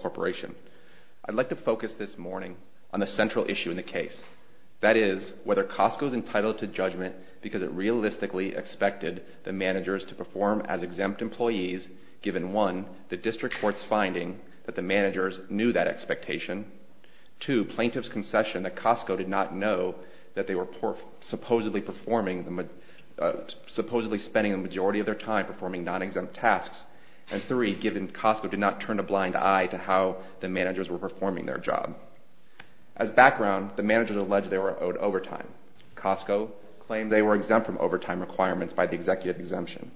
Corporation. I'd like to focus this morning on the central issue in the case, that is, whether Costco is entitled to judgment because it realistically expected the managers to perform as exempt employees given, one, the district court's finding that the managers knew that expectation, two, plaintiff's concession that Costco did not know that they were supposedly performing, supposedly spending the majority of their time performing non-exempt tasks, and three, given Costco did not turn a blind eye to how the managers were performing their job. As background, the managers alleged they were owed overtime. Costco claimed they were exempt from overtime requirements by the executive exemption.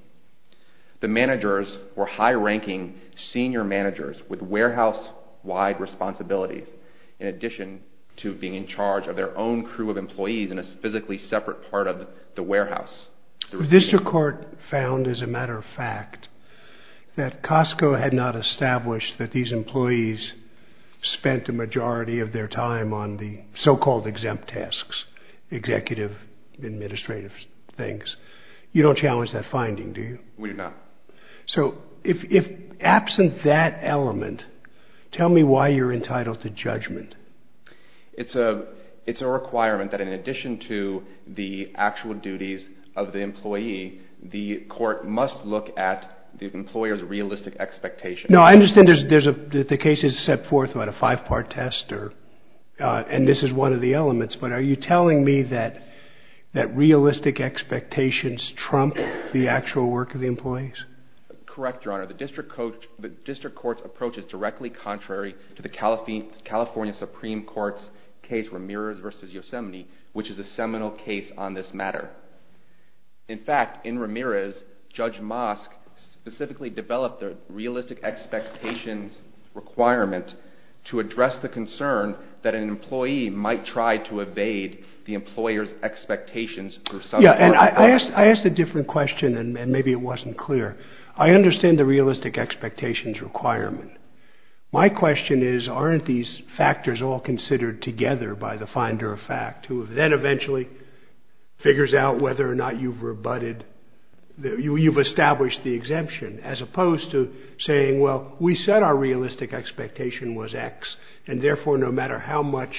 The managers were high-ranking senior managers with warehouse-wide responsibilities, in addition to being in charge of their own crew of employees in a physically separate part of the warehouse. The district court found, as a matter of fact, that Costco had not established that these employees spent the majority of their time on the so-called exempt tasks, executive administrative things. You don't challenge that finding, do you? We do not. So, if absent that element, tell me why you're entitled to judgment. It's a requirement that in addition to the actual duties of the employee, the court must look at the employer's realistic expectation. No, I understand the case is set forth on a five-part test, and this is one of the elements, but are you telling me that realistic expectations trump the actual work of the employees? Correct, Your Honor. The district court's approach is directly contrary to the California Supreme Court's case, Ramirez v. Yosemite, which is a seminal case on this matter. In fact, in Ramirez, Judge Mosk specifically developed the realistic expectations requirement to aid the employer's expectations for some... Yeah, and I asked a different question, and maybe it wasn't clear. I understand the realistic expectations requirement. My question is, aren't these factors all considered together by the finder of fact, who then eventually figures out whether or not you've rebutted, you've established the exemption, as opposed to saying, well, we said our realistic expectation was X, and therefore no matter how much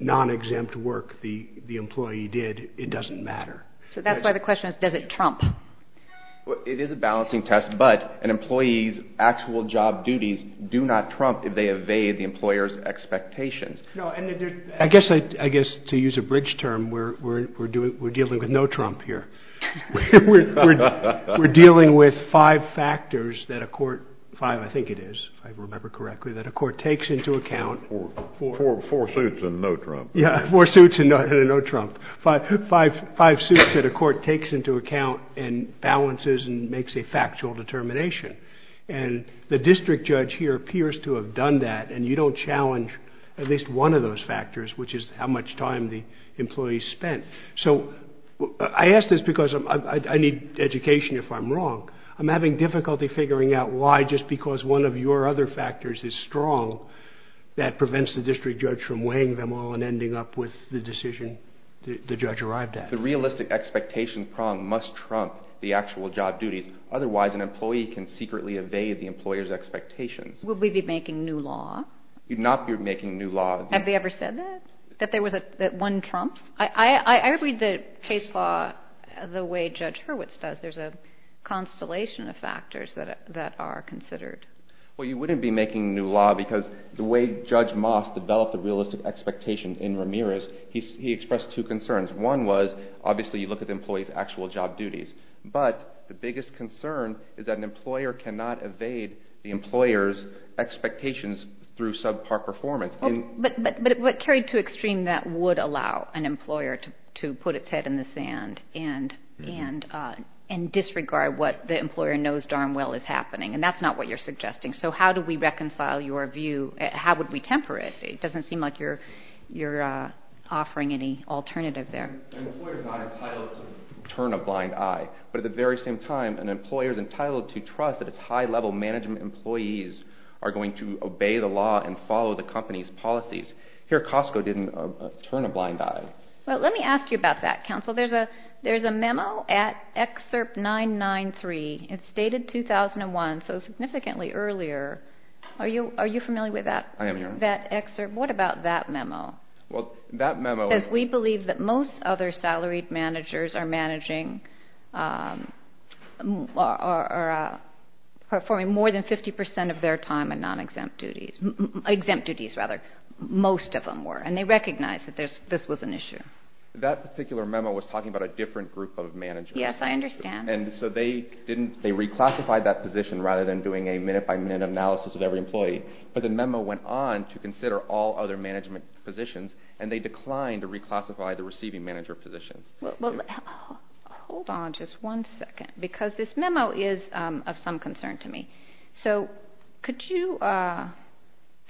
non-exempt work the employee did, it doesn't matter. So that's why the question is, does it trump? It is a balancing test, but an employee's actual job duties do not trump if they evade the employer's expectations. No, and I guess to use a bridge term, we're dealing with no Trump here. We're dealing with five factors that a court, five, I think it is, if I remember correctly, that a court takes into account... Four suits and no Trump. Yeah, four suits and no Trump. Five suits that a court takes into account and balances and makes a factual determination. And the district judge here appears to have done that, and you don't challenge at least one of those factors, which is how much time the employee spent. So I ask this because I need education if I'm wrong. I'm having difficulty figuring out why just because one of your other factors is strong, that prevents the district judge from weighing them all and ending up with the decision the judge arrived at. The realistic expectation prong must trump the actual job duties, otherwise an employee can secretly evade the employer's expectations. Would we be making new law? We'd not be making new law. Have they ever said that? That one trumps? I read the case law the way Judge Hurwitz does. There's a difference. Well, you wouldn't be making new law because the way Judge Moss developed the realistic expectation in Ramirez, he expressed two concerns. One was, obviously you look at the employee's actual job duties, but the biggest concern is that an employer cannot evade the employer's expectations through subpar performance. But carried to extreme that would allow an employer to put its head in the sand and disregard what the employer knows darn well is happening. And that's not what you're suggesting. So how do we reconcile your view? How would we temper it? It doesn't seem like you're offering any alternative there. An employer's not entitled to turn a blind eye. But at the very same time, an employer's entitled to trust that its high-level management employees are going to obey the law and follow the company's policies. Here, Costco didn't turn a blind eye. Well, let me ask you about that, counsel. There's a memo at Excerpt 993. It's dated 2001, so significantly earlier. Are you familiar with that? I am, Your Honor. What about that memo? That memo says we believe that most other salaried managers are managing or performing more than 50 percent of their time in non-exempt duties. Exempt duties, rather. Most of them were. And they recognize that this was an issue. That particular memo was talking about a different group of managers. Yes, I understand. And so they reclassified that position rather than doing a minute-by-minute analysis of every employee. But the memo went on to consider all other management positions, and they declined to reclassify the receiving manager positions. Well, hold on just one second, because this memo is of some concern to me. So could you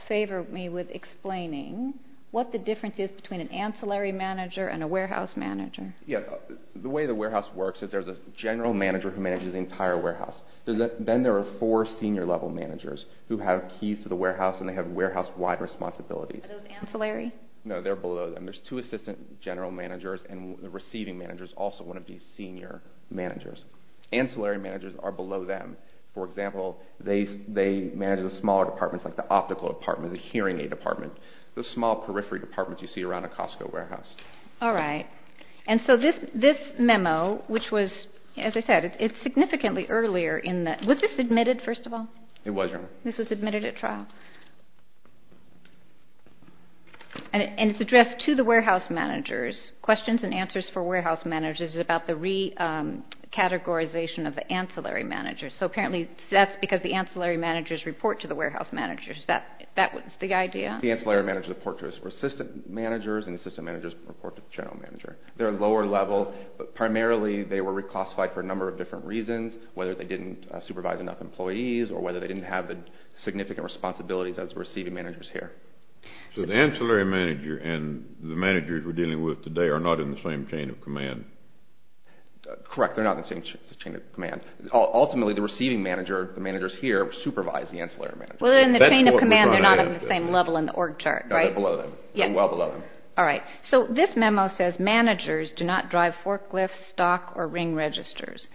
favor me with explaining what the difference is between an ancillary manager and a warehouse manager? Yeah. The way the warehouse works is there's a general manager who manages the entire warehouse. Then there are four senior-level managers who have keys to the warehouse, and they have warehouse-wide responsibilities. Are those ancillary? No, they're below them. There's two assistant general managers, and the receiving managers also want to be senior managers. Ancillary managers are below them. For example, they manage the smaller departments, like the optical department, the hearing aid department, the small periphery department you see around a Costco warehouse. All right. And so this memo, which was, as I said, it's significantly earlier in the... Was this admitted, first of all? It was, Your Honor. This was admitted at trial. And it's addressed to the warehouse managers. Questions and answers for warehouse managers is about the recategorization of the ancillary managers. So apparently that's because the ancillary managers report to the warehouse managers. That was the idea. The ancillary managers report to the assistant managers, and the assistant managers report to the general manager. They're lower level, but primarily they were reclassified for a number of different reasons, whether they didn't supervise enough employees or whether they didn't have the significant responsibilities as receiving managers here. So the ancillary manager and the managers we're dealing with today are not in the same chain of command. Correct. They're not in the same chain of command. Ultimately, the receiving manager, the managers here, supervise the ancillary managers. Well, in the chain of command, they're not on the same level in the org chart, right? No, they're below them. They're well below them. All right. So this memo says, managers do not drive forklifts, stock, or ring registers.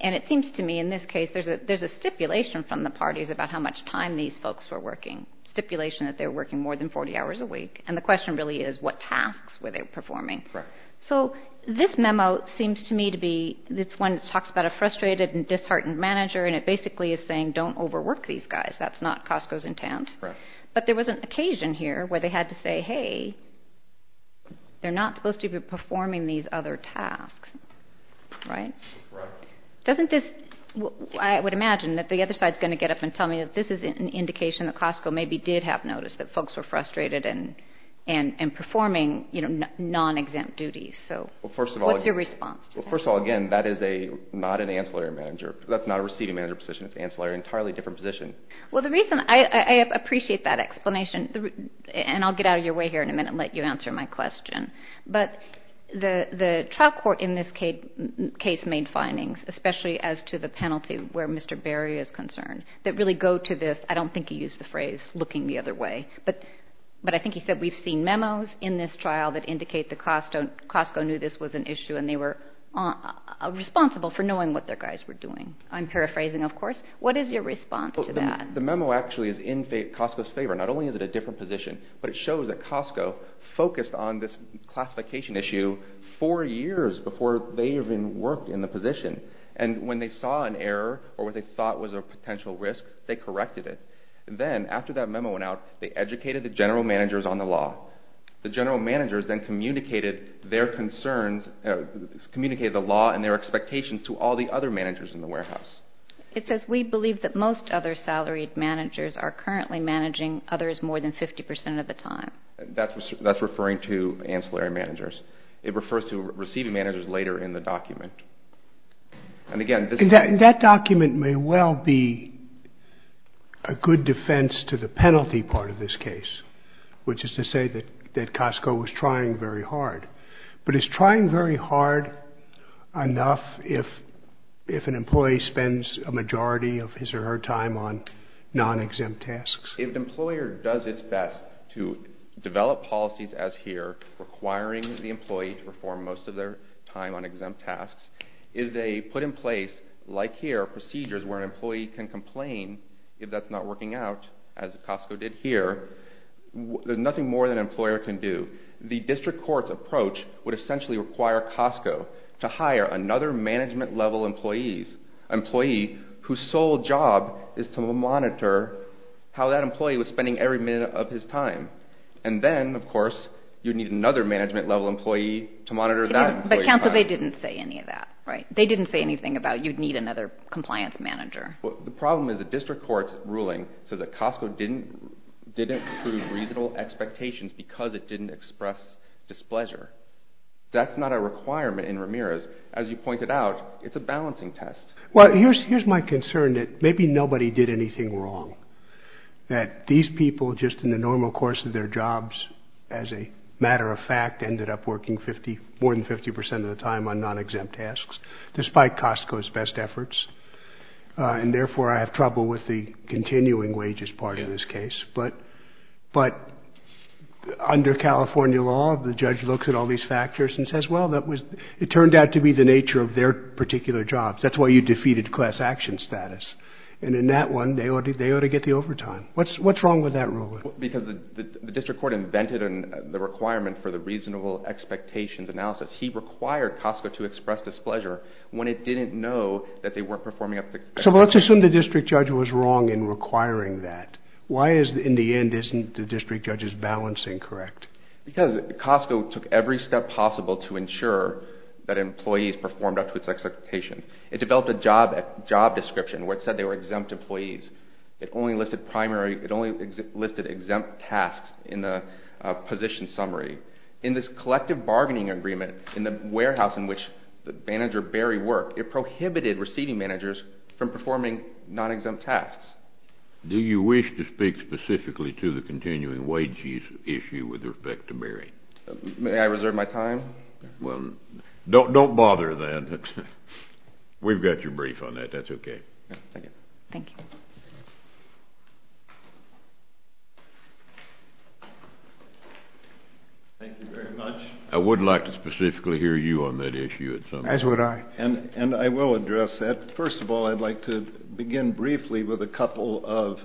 And it seems to me, in this case, there's a stipulation from the parties about how much time these folks were working. Stipulation that they were working more than 40 hours a week. And the question really is, what tasks were they performing? So this memo seems to me to be... Disheartened manager. And it basically is saying, don't overwork these guys. That's not Costco's intent. But there was an occasion here where they had to say, hey, they're not supposed to be performing these other tasks. Right? Doesn't this... I would imagine that the other side's going to get up and tell me that this is an indication that Costco maybe did have noticed that folks were frustrated and performing non-exempt duties. So what's your response? Well, first of all, again, that is not an ancillary manager. That's not a receiving manager position. It's an ancillary, entirely different position. Well, the reason... I appreciate that explanation. And I'll get out of your way here in a minute and let you answer my question. But the trial court in this case made findings, especially as to the penalty where Mr. Berry is concerned, that really go to this... I don't think he used the phrase, looking the other way. But I think he said, we've seen memos in this trial that indicate that Costco knew this was an issue and they were responsible for knowing what their guys were doing. I'm paraphrasing, of course. What is your response to that? The memo actually is in Costco's favor. Not only is it a different position, but it shows that Costco focused on this classification issue four years before they even worked in the position. And when they saw an error or what they thought was a potential risk, they corrected it. Then after that memo went out, they educated the general managers on the law. The general managers then communicated their concerns, communicated the law and their expectations to all the other managers in the warehouse. It says, we believe that most other salaried managers are currently managing others more than 50% of the time. That's referring to ancillary managers. It refers to receiving managers later in the document. And which is to say that Costco was trying very hard. But it's trying very hard enough if an employee spends a majority of his or her time on non-exempt tasks. If the employer does its best to develop policies as here, requiring the employee to perform most of their time on exempt tasks, if they put in place, like here, procedures where an employee can complain if that's not working out, as Costco did here, there's nothing more that an employer can do. The district court's approach would essentially require Costco to hire another management-level employee whose sole job is to monitor how that employee was spending every minute of his time. And then, of course, you need another management-level employee to monitor that. But counsel, they didn't say any of that, right? They didn't say anything about you'd need another compliance manager. Well, the problem is the didn't include reasonable expectations because it didn't express displeasure. That's not a requirement in Ramirez. As you pointed out, it's a balancing test. Well, here's my concern that maybe nobody did anything wrong. That these people just in the normal course of their jobs, as a matter of fact, ended up working more than 50% of the time on non-exempt tasks, despite Costco's best efforts. And therefore, I have trouble with the continuing wages part of this case. But under California law, the judge looks at all these factors and says, well, it turned out to be the nature of their particular jobs. That's why you defeated class action status. And in that one, they ought to get the overtime. What's wrong with that ruling? Because the district court invented the requirement for the reasonable expectations analysis. He required Costco to express displeasure when it didn't know that they weren't requiring that. Why is, in the end, isn't the district judge's balancing correct? Because Costco took every step possible to ensure that employees performed up to its expectations. It developed a job description where it said they were exempt employees. It only listed primary, it only listed exempt tasks in the position summary. In this collective bargaining agreement in the warehouse in which the manager Barry worked, it prohibited receiving managers from performing non-exempt tasks. Do you wish to speak specifically to the continuing wages issue with respect to Barry? May I reserve my time? Well, don't don't bother then. We've got your brief on that. That's okay. Thank you. Thank you very much. I would like to specifically hear you on that issue at some point. As would I. And and I will address that. First of all, I'd like to begin briefly with a couple of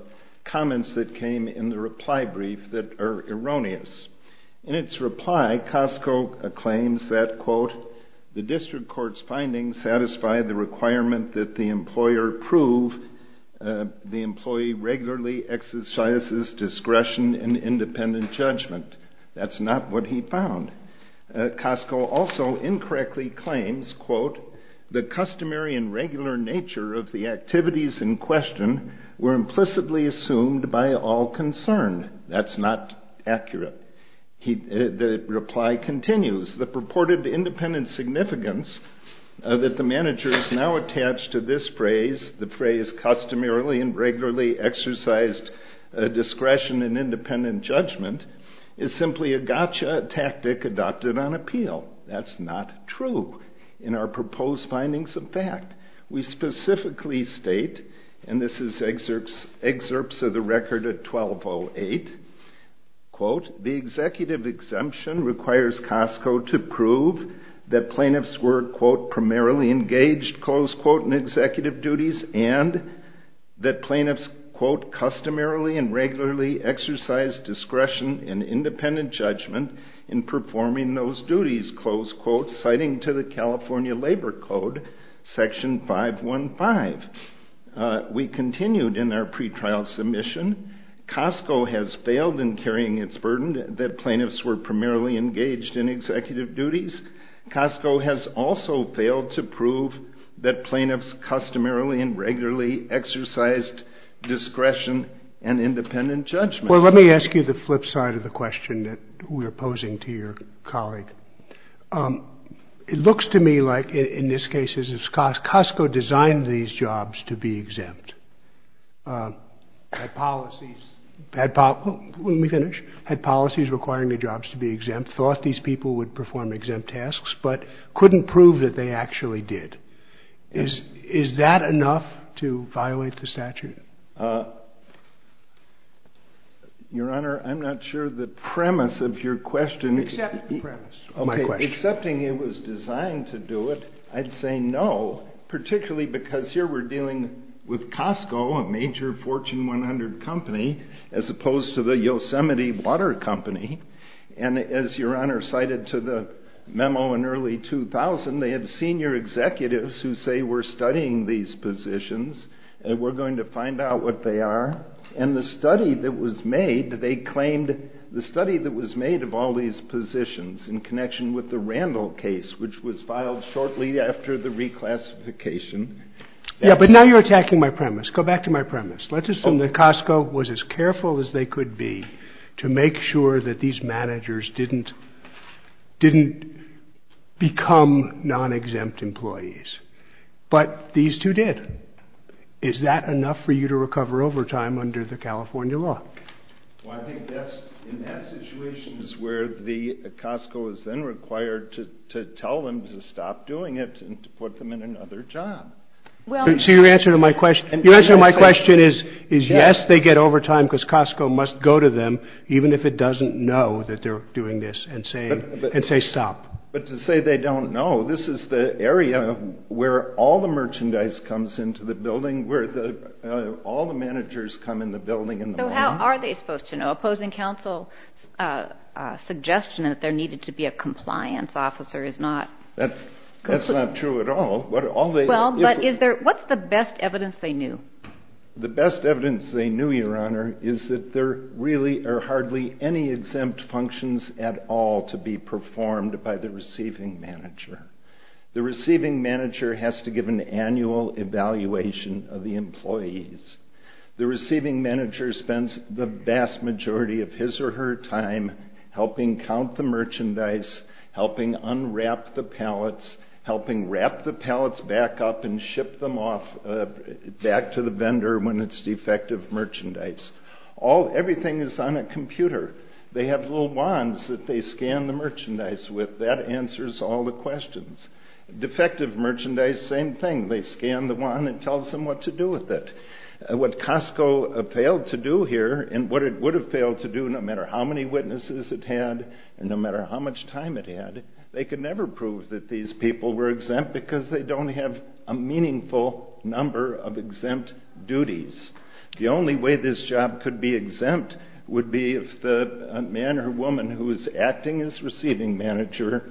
comments that came in the reply brief that are erroneous. In its reply, Costco claims that, quote, the district court's findings satisfy the requirement that the employer prove the employee regularly exercises discretion and independent judgment. That's not what he found. Costco also incorrectly claims, quote, the customary and regular nature of the activities in question were implicitly assumed by all concerned. That's not accurate. The reply continues, the purported independent significance that the manager is now attached to this phrase, the phrase customarily and regularly exercised discretion and independent judgment, is simply a gotcha tactic adopted on appeal. That's not true. In our proposed findings of fact, we specifically state, and this is excerpts excerpts of the record at 1208, quote, the executive exemption requires Costco to prove that plaintiffs were, quote, and regularly exercised discretion and independent judgment in performing those duties, quote, citing to the California Labor Code, section 515. We continued in our pretrial submission. Costco has failed in carrying its burden that plaintiffs were primarily engaged in executive duties. Costco has also and independent judgment. Well, let me ask you the flip side of the question that we're posing to your colleague. It looks to me like in this case, Costco designed these jobs to be exempt. Had policies, let me finish, had policies requiring the jobs to be exempt, thought these people would perform exempt tasks, but couldn't prove that they actually did. Is that enough to violate the statute? Your Honor, I'm not sure the premise of your question. Accept the premise. Okay, accepting it was designed to do it, I'd say no, particularly because here we're dealing with Costco, a major Fortune 100 company, as opposed to the Yosemite Water Company. And as Your Honor cited to the memo in early 2000, they had senior executives who say we're studying these positions, and we're going to the study that was made, they claimed the study that was made of all these positions in connection with the Randall case, which was filed shortly after the reclassification. Yeah, but now you're attacking my premise. Go back to my premise. Let's assume that Costco was as careful as they could be to make sure that these managers didn't become non-exempt employees. But these two did. Is that enough for you to recover overtime under the California law? Well, I think that's, in that situation is where the, Costco is then required to tell them to stop doing it and to put them in another job. So your answer to my question, your answer to my question is, is yes, they get overtime because Costco must go to them, even if it doesn't know that they're doing this and saying, and say stop. But to say they don't know, this is the area where all the merchandise comes into the building, where all the managers come in the building in the morning. So how are they supposed to know? Opposing counsel's suggestion that there needed to be a compliance officer is not... That's not true at all. Well, but is there, what's the best evidence they knew? The best evidence they knew, your honor, is that there really are hardly any exempt functions at all to be performed by the receiving manager. The receiving manager has to give an annual evaluation of the employees. The receiving manager spends the vast majority of his or her time helping count the merchandise, helping unwrap the pallets, helping wrap the pallets back up and ship them off, back to the vendor when it's defective merchandise. All, everything is on a computer. They have little wands that they scan the merchandise with. That answers all the questions. Defective merchandise, same thing. They scan the wand and it tells them what to do with it. What Costco failed to do here, and what it would have failed to do no matter how many witnesses it had, and no matter how much time it had, they could never prove that these people were exempt because they don't have a meaningful number of exempt duties. The only way this job could be exempt would be if the man or woman who is acting as receiving manager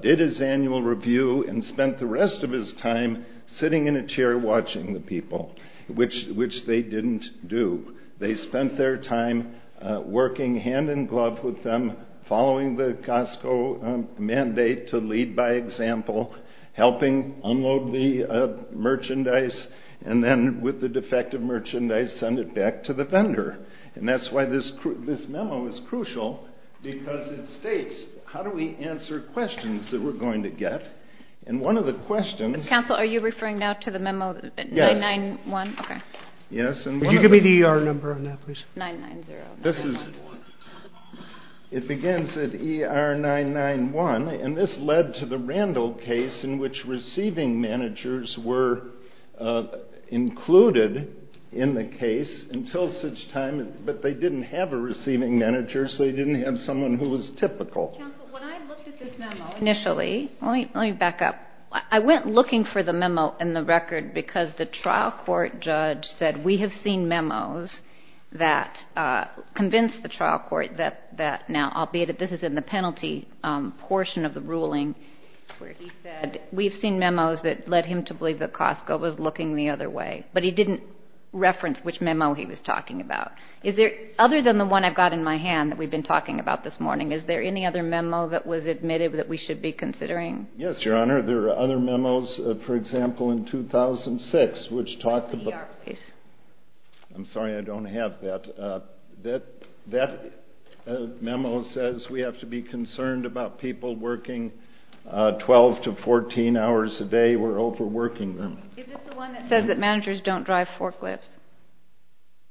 did his annual review and spent the rest of his time sitting in a chair watching the people. Which they didn't do. They spent their time working hand-in-glove with them, following the Costco mandate to lead by example, helping unload the merchandise, and then with the defective merchandise, send it back to the vendor. And that's why this memo is crucial, because it states, how do we answer questions that we're going to get? And one of the questions... Counsel, are you referring now to the memo 9-9-1? Yes. Could you give me the ER number on that, please? 9-9-0. This is... It begins at ER 9-9-1, and this led to the Randall case in which receiving managers were included in the case until such time, but they didn't have a receiving manager, so they didn't have someone who was typical. Counsel, when I looked at this memo initially... I refer the memo in the record because the trial court judge said, we have seen memos that convinced the trial court that... Now, albeit that this is in the penalty portion of the ruling, where he said, we've seen memos that led him to believe that Costco was looking the other way. But he didn't reference which memo he was talking about. Is there... Other than the one I've got in my hand that we've been talking about this morning, is there any other memo that was admitted that we should be considering? Yes, Your Honor. There are other memos. For example, in 2006, which talked about... The ER case. I'm sorry, I don't have that. That memo says we have to be concerned about people working 12 to 14 hours a day or overworking them. Is this the one that says that managers don't drive forklifts?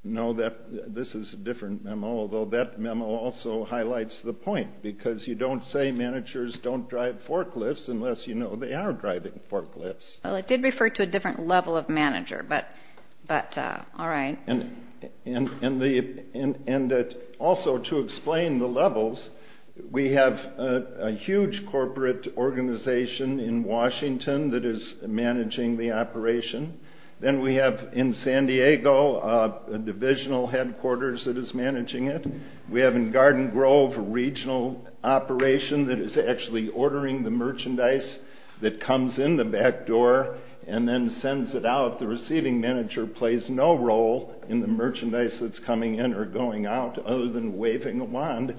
No, that... This is a different memo, although that memo also highlights the point, because you don't say managers don't drive forklifts unless you know they are driving forklifts. Well, it did refer to a different level of manager, but... All right. And also to explain the levels, we have a huge corporate organization in Washington that is managing the operation. Then we have, in San Diego, a divisional headquarters that is managing it. We have, in Garden Grove, a regional operation that is actually ordering the merchandise that comes in the back door and then sends it out. The receiving manager plays no role in the merchandise that's coming in or going out other than waving a wand,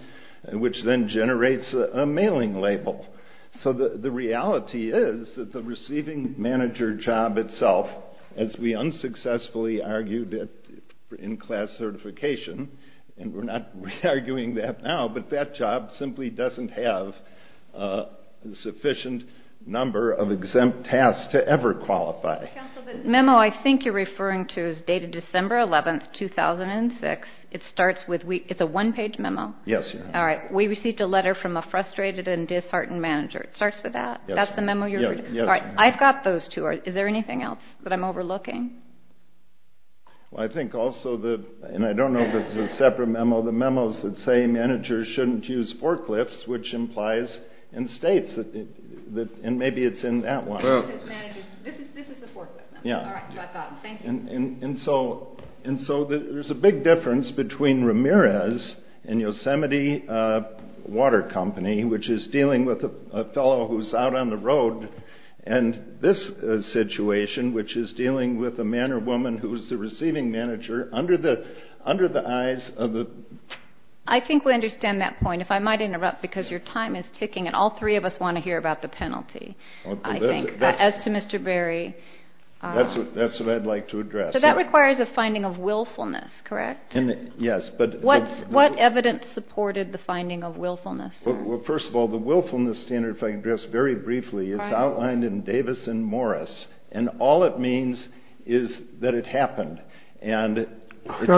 which then generates a mailing label. So the reality is that the receiving manager job itself, as we unsuccessfully argued in class certification, and we're not re-arguing that now, but that job simply doesn't have a sufficient number of exempt tasks to ever qualify. Counsel, the memo I think you're referring to is dated December 11, 2006. It's a one-page memo. Yes. All right. We received a letter from a frustrated and disheartened manager. It starts with that? Yes. That's the memo you're referring to? Yes. All right. I've got those two. Is there anything else that I'm overlooking? Well, I think also that, and I don't know if it's a separate memo, the memos that say managers shouldn't use forklifts, which implies in states that, and maybe it's in that one. This is the forklift memo. Yeah. All right. So I've got them. Thank you. And so there's a big difference between Ramirez and Yosemite Water Company, which is dealing with a fellow who's out on the road, and this situation, which is dealing with a man or woman who's the receiving manager under the eyes of the. I think we understand that point. If I might interrupt, because your time is ticking, and all three of us want to hear about the penalty, I think. As to Mr. Berry. That's what I'd like to address. So that requires a finding of willfulness, correct? Yes. What evidence supported the finding of willfulness? Well, first of all, the willfulness standard, if I can address very briefly, it's outlined in Davis and Morris. And all it means is that it happened. If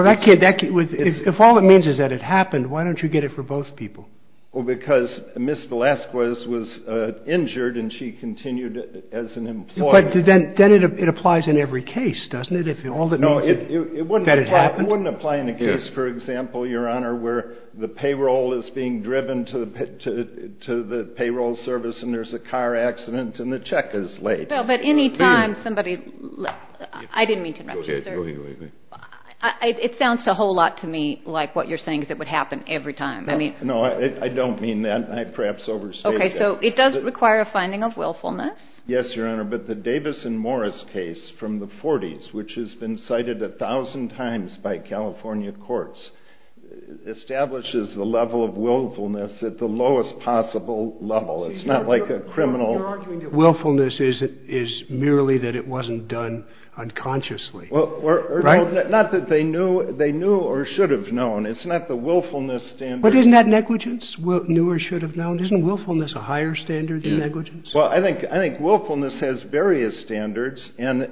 all it means is that it happened, why don't you get it for both people? Well, because Ms. Velasquez was injured, and she continued as an employee. But then it applies in every case, doesn't it? No, it wouldn't apply in a case, for example, Your Honor, where the payroll is being driven to the payroll service, and there's a car accident, and the check is late. No, but any time somebody – I didn't mean to interrupt you, sir. It sounds a whole lot to me like what you're saying, because it would happen every time. No, I don't mean that, and I perhaps overstated that. Okay, so it does require a finding of willfulness. Yes, Your Honor, but the Davis and Morris case from the 40s, which has been cited a thousand times by California courts, establishes the level of willfulness at the lowest possible level. It's not like a criminal – You're arguing that willfulness is merely that it wasn't done unconsciously, right? Not that they knew or should have known. It's not the willfulness standard. But isn't that negligence, knew or should have known? Isn't willfulness a higher standard than negligence? Well, I think willfulness has various standards and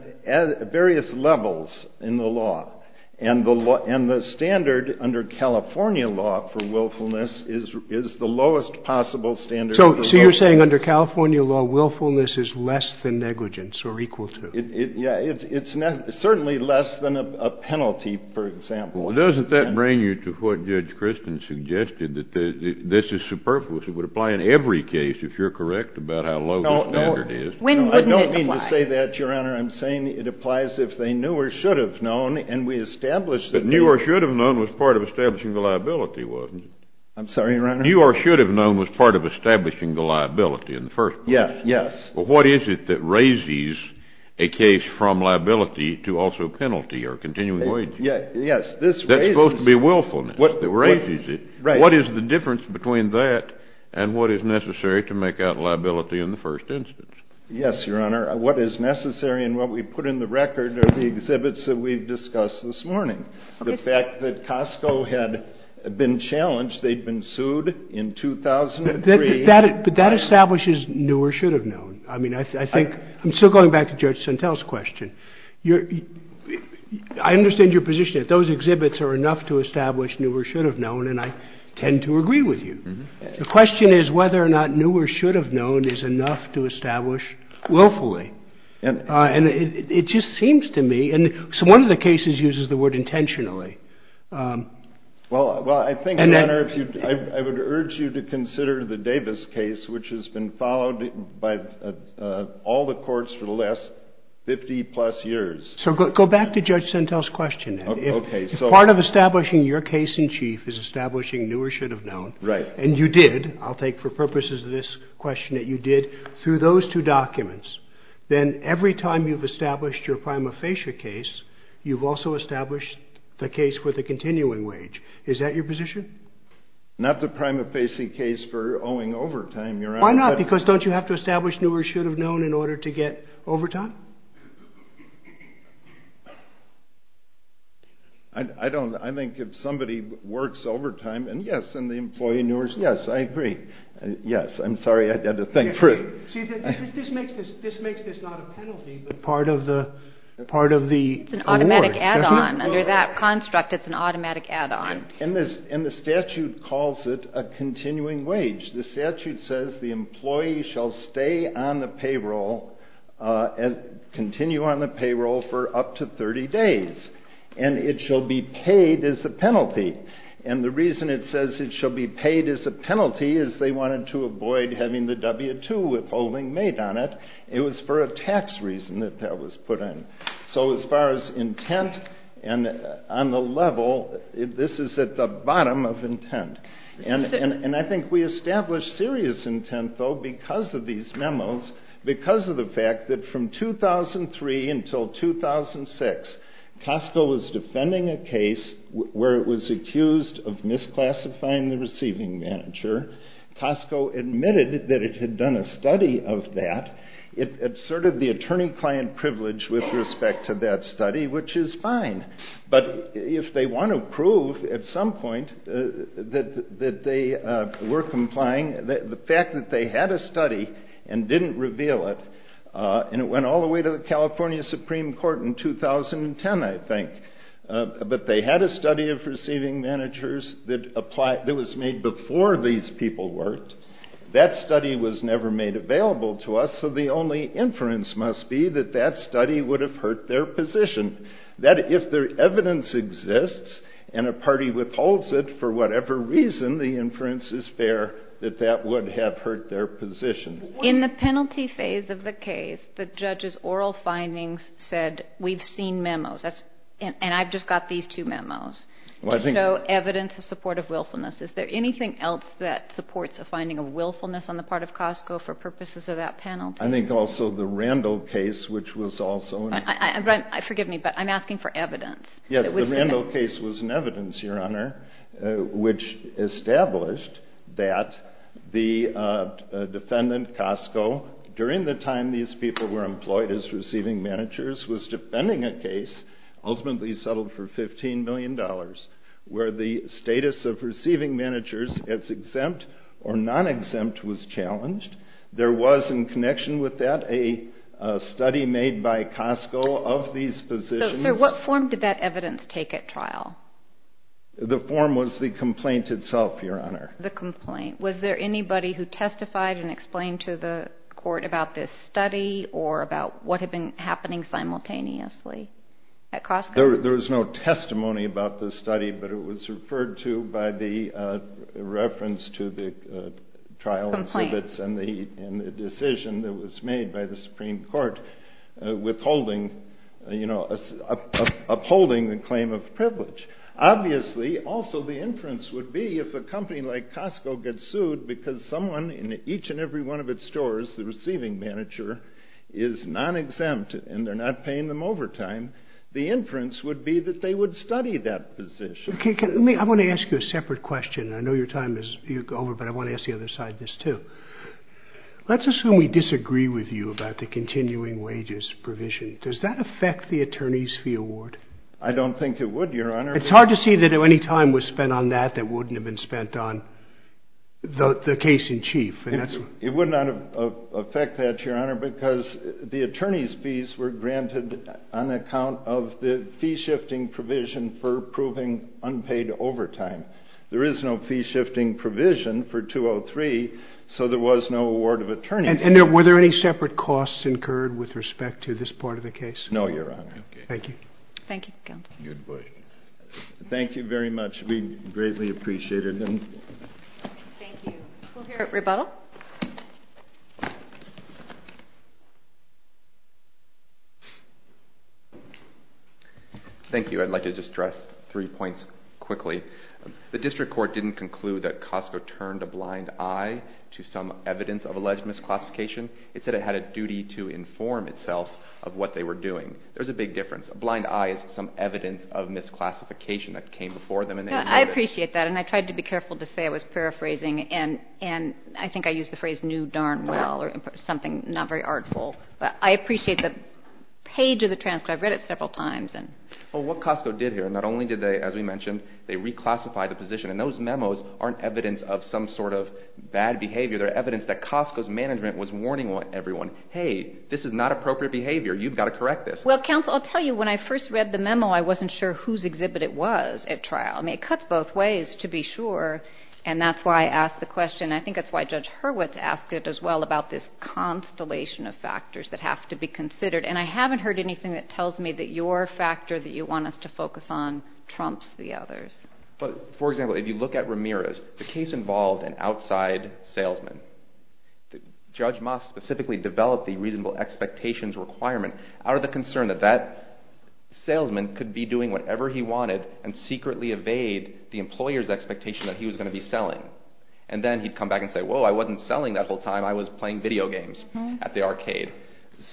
various levels in the law, and the standard under California law for willfulness is the lowest possible standard. So you're saying under California law, willfulness is less than negligence or equal to? Yeah, it's certainly less than a penalty, for example. Doesn't that bring you to what Judge Christin suggested, that this is superfluous? It would apply in every case, if you're correct, about how low the standard is. No, no. When wouldn't it apply? I don't mean to say that, Your Honor. I'm saying it applies if they knew or should have known, and we established that they – But knew or should have known was part of establishing the liability, wasn't it? I'm sorry, Your Honor? Knew or should have known was part of establishing the liability in the first place. Yes, yes. But what is it that raises a case from liability to also penalty or continuing wages? Yes, this raises – That's supposed to be willfulness. What raises it? Right. What is the difference between that and what is necessary to make out liability in the first instance? Yes, Your Honor. What is necessary and what we put in the record are the exhibits that we've discussed this morning. The fact that Costco had been challenged, they'd been sued in 2003. But that establishes knew or should have known. I mean, I think – I'm still going back to Judge Sentelle's question. I understand your position that those exhibits are enough to establish knew or should have known, and I tend to agree with you. The question is whether or not knew or should have known is enough to establish willfully. And it just seems to me – so one of the cases uses the word intentionally. Well, I think, Your Honor, I would urge you to consider the Davis case, which has been followed by all the courts for the last 50-plus years. So go back to Judge Sentelle's question then. If part of establishing your case in chief is establishing knew or should have known, and you did – I'll take for purposes of this question that you did – through those two documents, then every time you've established your prima facie case, you've also established the case for the continuing wage. Is that your position? Not the prima facie case for owing overtime, Your Honor. Why not? Because don't you have to establish knew or should have known in order to get overtime? I don't – I think if somebody works overtime, and yes, and the employee knew or – yes, I agree. Yes, I'm sorry, I had to think for a – See, this makes this not a penalty, but part of the award, doesn't it? It's an automatic add-on. Under that construct, it's an automatic add-on. And the statute calls it a continuing wage. The statute says the employee shall stay on the payroll and continue on the payroll for up to 30 days. And it shall be paid as a penalty. And the reason it says it shall be paid as a penalty is they wanted to avoid having the W-2 withholding made on it. It was for a tax reason that that was put in. So as far as intent and on the level, this is at the bottom of intent. And I think we established serious intent, though, because of these memos, because of the fact that from 2003 until 2006, Costco was defending a case where it was accused of misclassifying the receiving manager. Costco admitted that it had done a study of that. It asserted the attorney-client privilege with respect to that study, which is fine. But if they want to prove at some point that they were complying, the fact that they had a study and didn't reveal it, and it went all the way to the California Supreme Court in 2010, I think, but they had a study of receiving managers that was made before these people worked, that study was never made available to us. So the only inference must be that that study would have hurt their position, that if their evidence exists and a party withholds it for whatever reason, the inference is fair that that would have hurt their position. In the penalty phase of the case, the judge's oral findings said, we've seen memos, and I've just got these two memos, to show evidence in support of willfulness. Is there anything else that supports a finding of willfulness on the part of Costco for purposes of that penalty? I think also the Randall case, which was also... Forgive me, but I'm asking for evidence. Yes, the Randall case was an evidence, Your Honor, which established that the defendant, Costco, during the time these people were employed as receiving managers, was defending a case ultimately settled for $15 million, where the status of receiving managers as exempt or non-exempt was challenged. There was, in connection with that, a study made by Costco of these positions. So what form did that evidence take at trial? The form was the complaint itself, Your Honor. The complaint. Was there anybody who testified and explained to the court about this study, or about what had been happening simultaneously at Costco? There was no testimony about the study, but it was referred to by the reference to the trial exhibits and the decision that was made by the Supreme Court, withholding, you know, upholding the claim of privilege. Obviously, also the inference would be if a company like Costco gets sued because someone in each and every one of its stores, the receiving manager, is non-exempt and they're not paying them overtime, the inference would be that they would study that position. I want to ask you a separate question. I know your time is over, but I want to ask the other side this, too. Let's assume we disagree with you about the continuing wages provision. Does that affect the attorney's fee award? I don't think it would, Your Honor. It's hard to see that any time was spent on that that wouldn't have been spent on the case-in-chief. It would not affect that, Your Honor, because the attorney's fees were granted on account of the fee-shifting provision for approving unpaid overtime. There is no fee-shifting provision for 203, so there was no award of attorneys. And were there any separate costs incurred with respect to this part of the case? No, Your Honor. Thank you. Thank you, Counsel. Thank you very much. We greatly appreciate it. Thank you. We'll hear at rebuttal. Thank you. I'd like to just stress three points quickly. The district court didn't conclude that Costco turned a blind eye to some evidence of alleged misclassification. It said it had a duty to inform itself of what they were doing. There's a big difference. A blind eye is some evidence of misclassification that came before them and they avoided it. I appreciate that, and I tried to be careful to say I was paraphrasing. And I think I used the phrase, knew darn well, or something not very artful. But I appreciate the page of the transcript. I've read it several times. I appreciate the person. Well, what Costco did here, not only did they, as we mentioned, they reclassified the position. And those memos aren't evidence of some sort of bad behavior. They're evidence that Costco's management was warning everyone, hey, this is not appropriate behavior. You've got to correct this. Well, Counsel, I'll tell you, when I first read the memo, I wasn't sure whose exhibit it was at trial. I mean, it cuts both ways, to be sure. And that's why I asked the question. I think that's why Judge Hurwitz asked it as well, about this constellation of factors that have to be considered. And I haven't heard anything that tells me that your factor that you want us to focus on trumps the others. But, for example, if you look at Ramirez, the case involved an outside salesman. Judge Moss specifically developed the reasonable expectations requirement, out of the concern that that salesman could be doing whatever he wanted, and secretly evade the employer's expectation that he was going to be selling. And then he'd come back and say, whoa, I wasn't selling that whole time. I was playing video games at the arcade.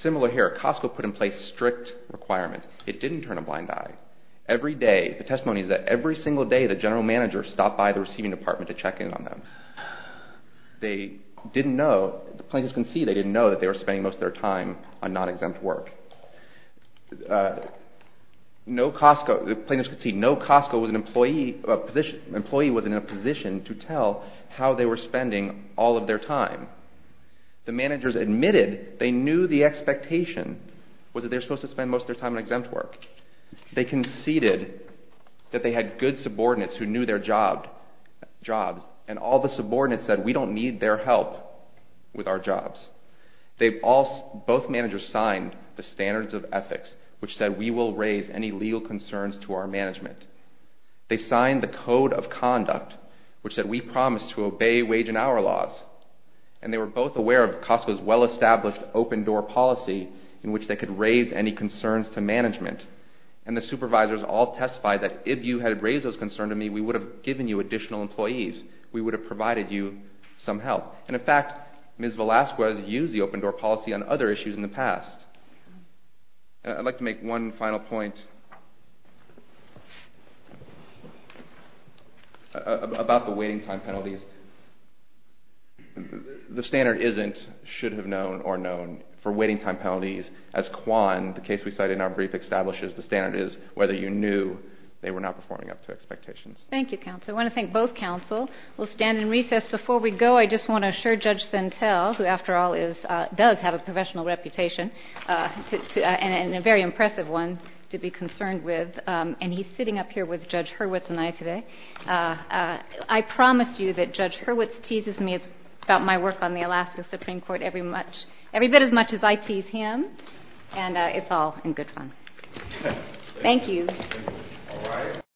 Similar here. Costco put in place strict requirements. It didn't turn a blind eye. Every day, the testimony is that every single day, the general manager stopped by the receiving department to check in on them. They didn't know, plaintiffs conceded, they didn't know that they were spending most of their time on non-exempt work. No Costco, plaintiffs conceded, no Costco was in a position to tell how they were spending all of their time. The managers admitted they knew the expectation was that they were supposed to spend most of their time on exempt work. They conceded that they had good subordinates who knew their jobs, and all the subordinates said we don't need their help with our jobs. Both managers signed the standards of ethics, which said we will raise any legal concerns to our management. They signed the code of conduct, which said we promise to obey wage and hour laws. And they were both aware of Costco's well-established open-door policy, in which they could raise any concerns to management. And the supervisors all testified that if you had raised those concerns to me, we would have given you additional employees. We would have provided you some help. And in fact, Ms. Velasquez used the open-door policy on other issues in the past. I'd like to make one final point about the waiting time penalties. The standard isn't should have known or known for waiting time penalties. As Kwan, the case we cited in our brief, establishes, the standard is whether you knew they were not performing up to expectations. Thank you, counsel. I want to thank both counsel. We'll stand in recess. Before we go, I just want to assure Judge Sentell, who after all does have a professional reputation, and a very impressive one to be concerned with, and he's sitting up here with Judge Hurwitz and I today, I promise you that Judge Hurwitz teases me about my work on the Alaska Supreme Court every bit as much as I tease him. And it's all in good fun. Thank you.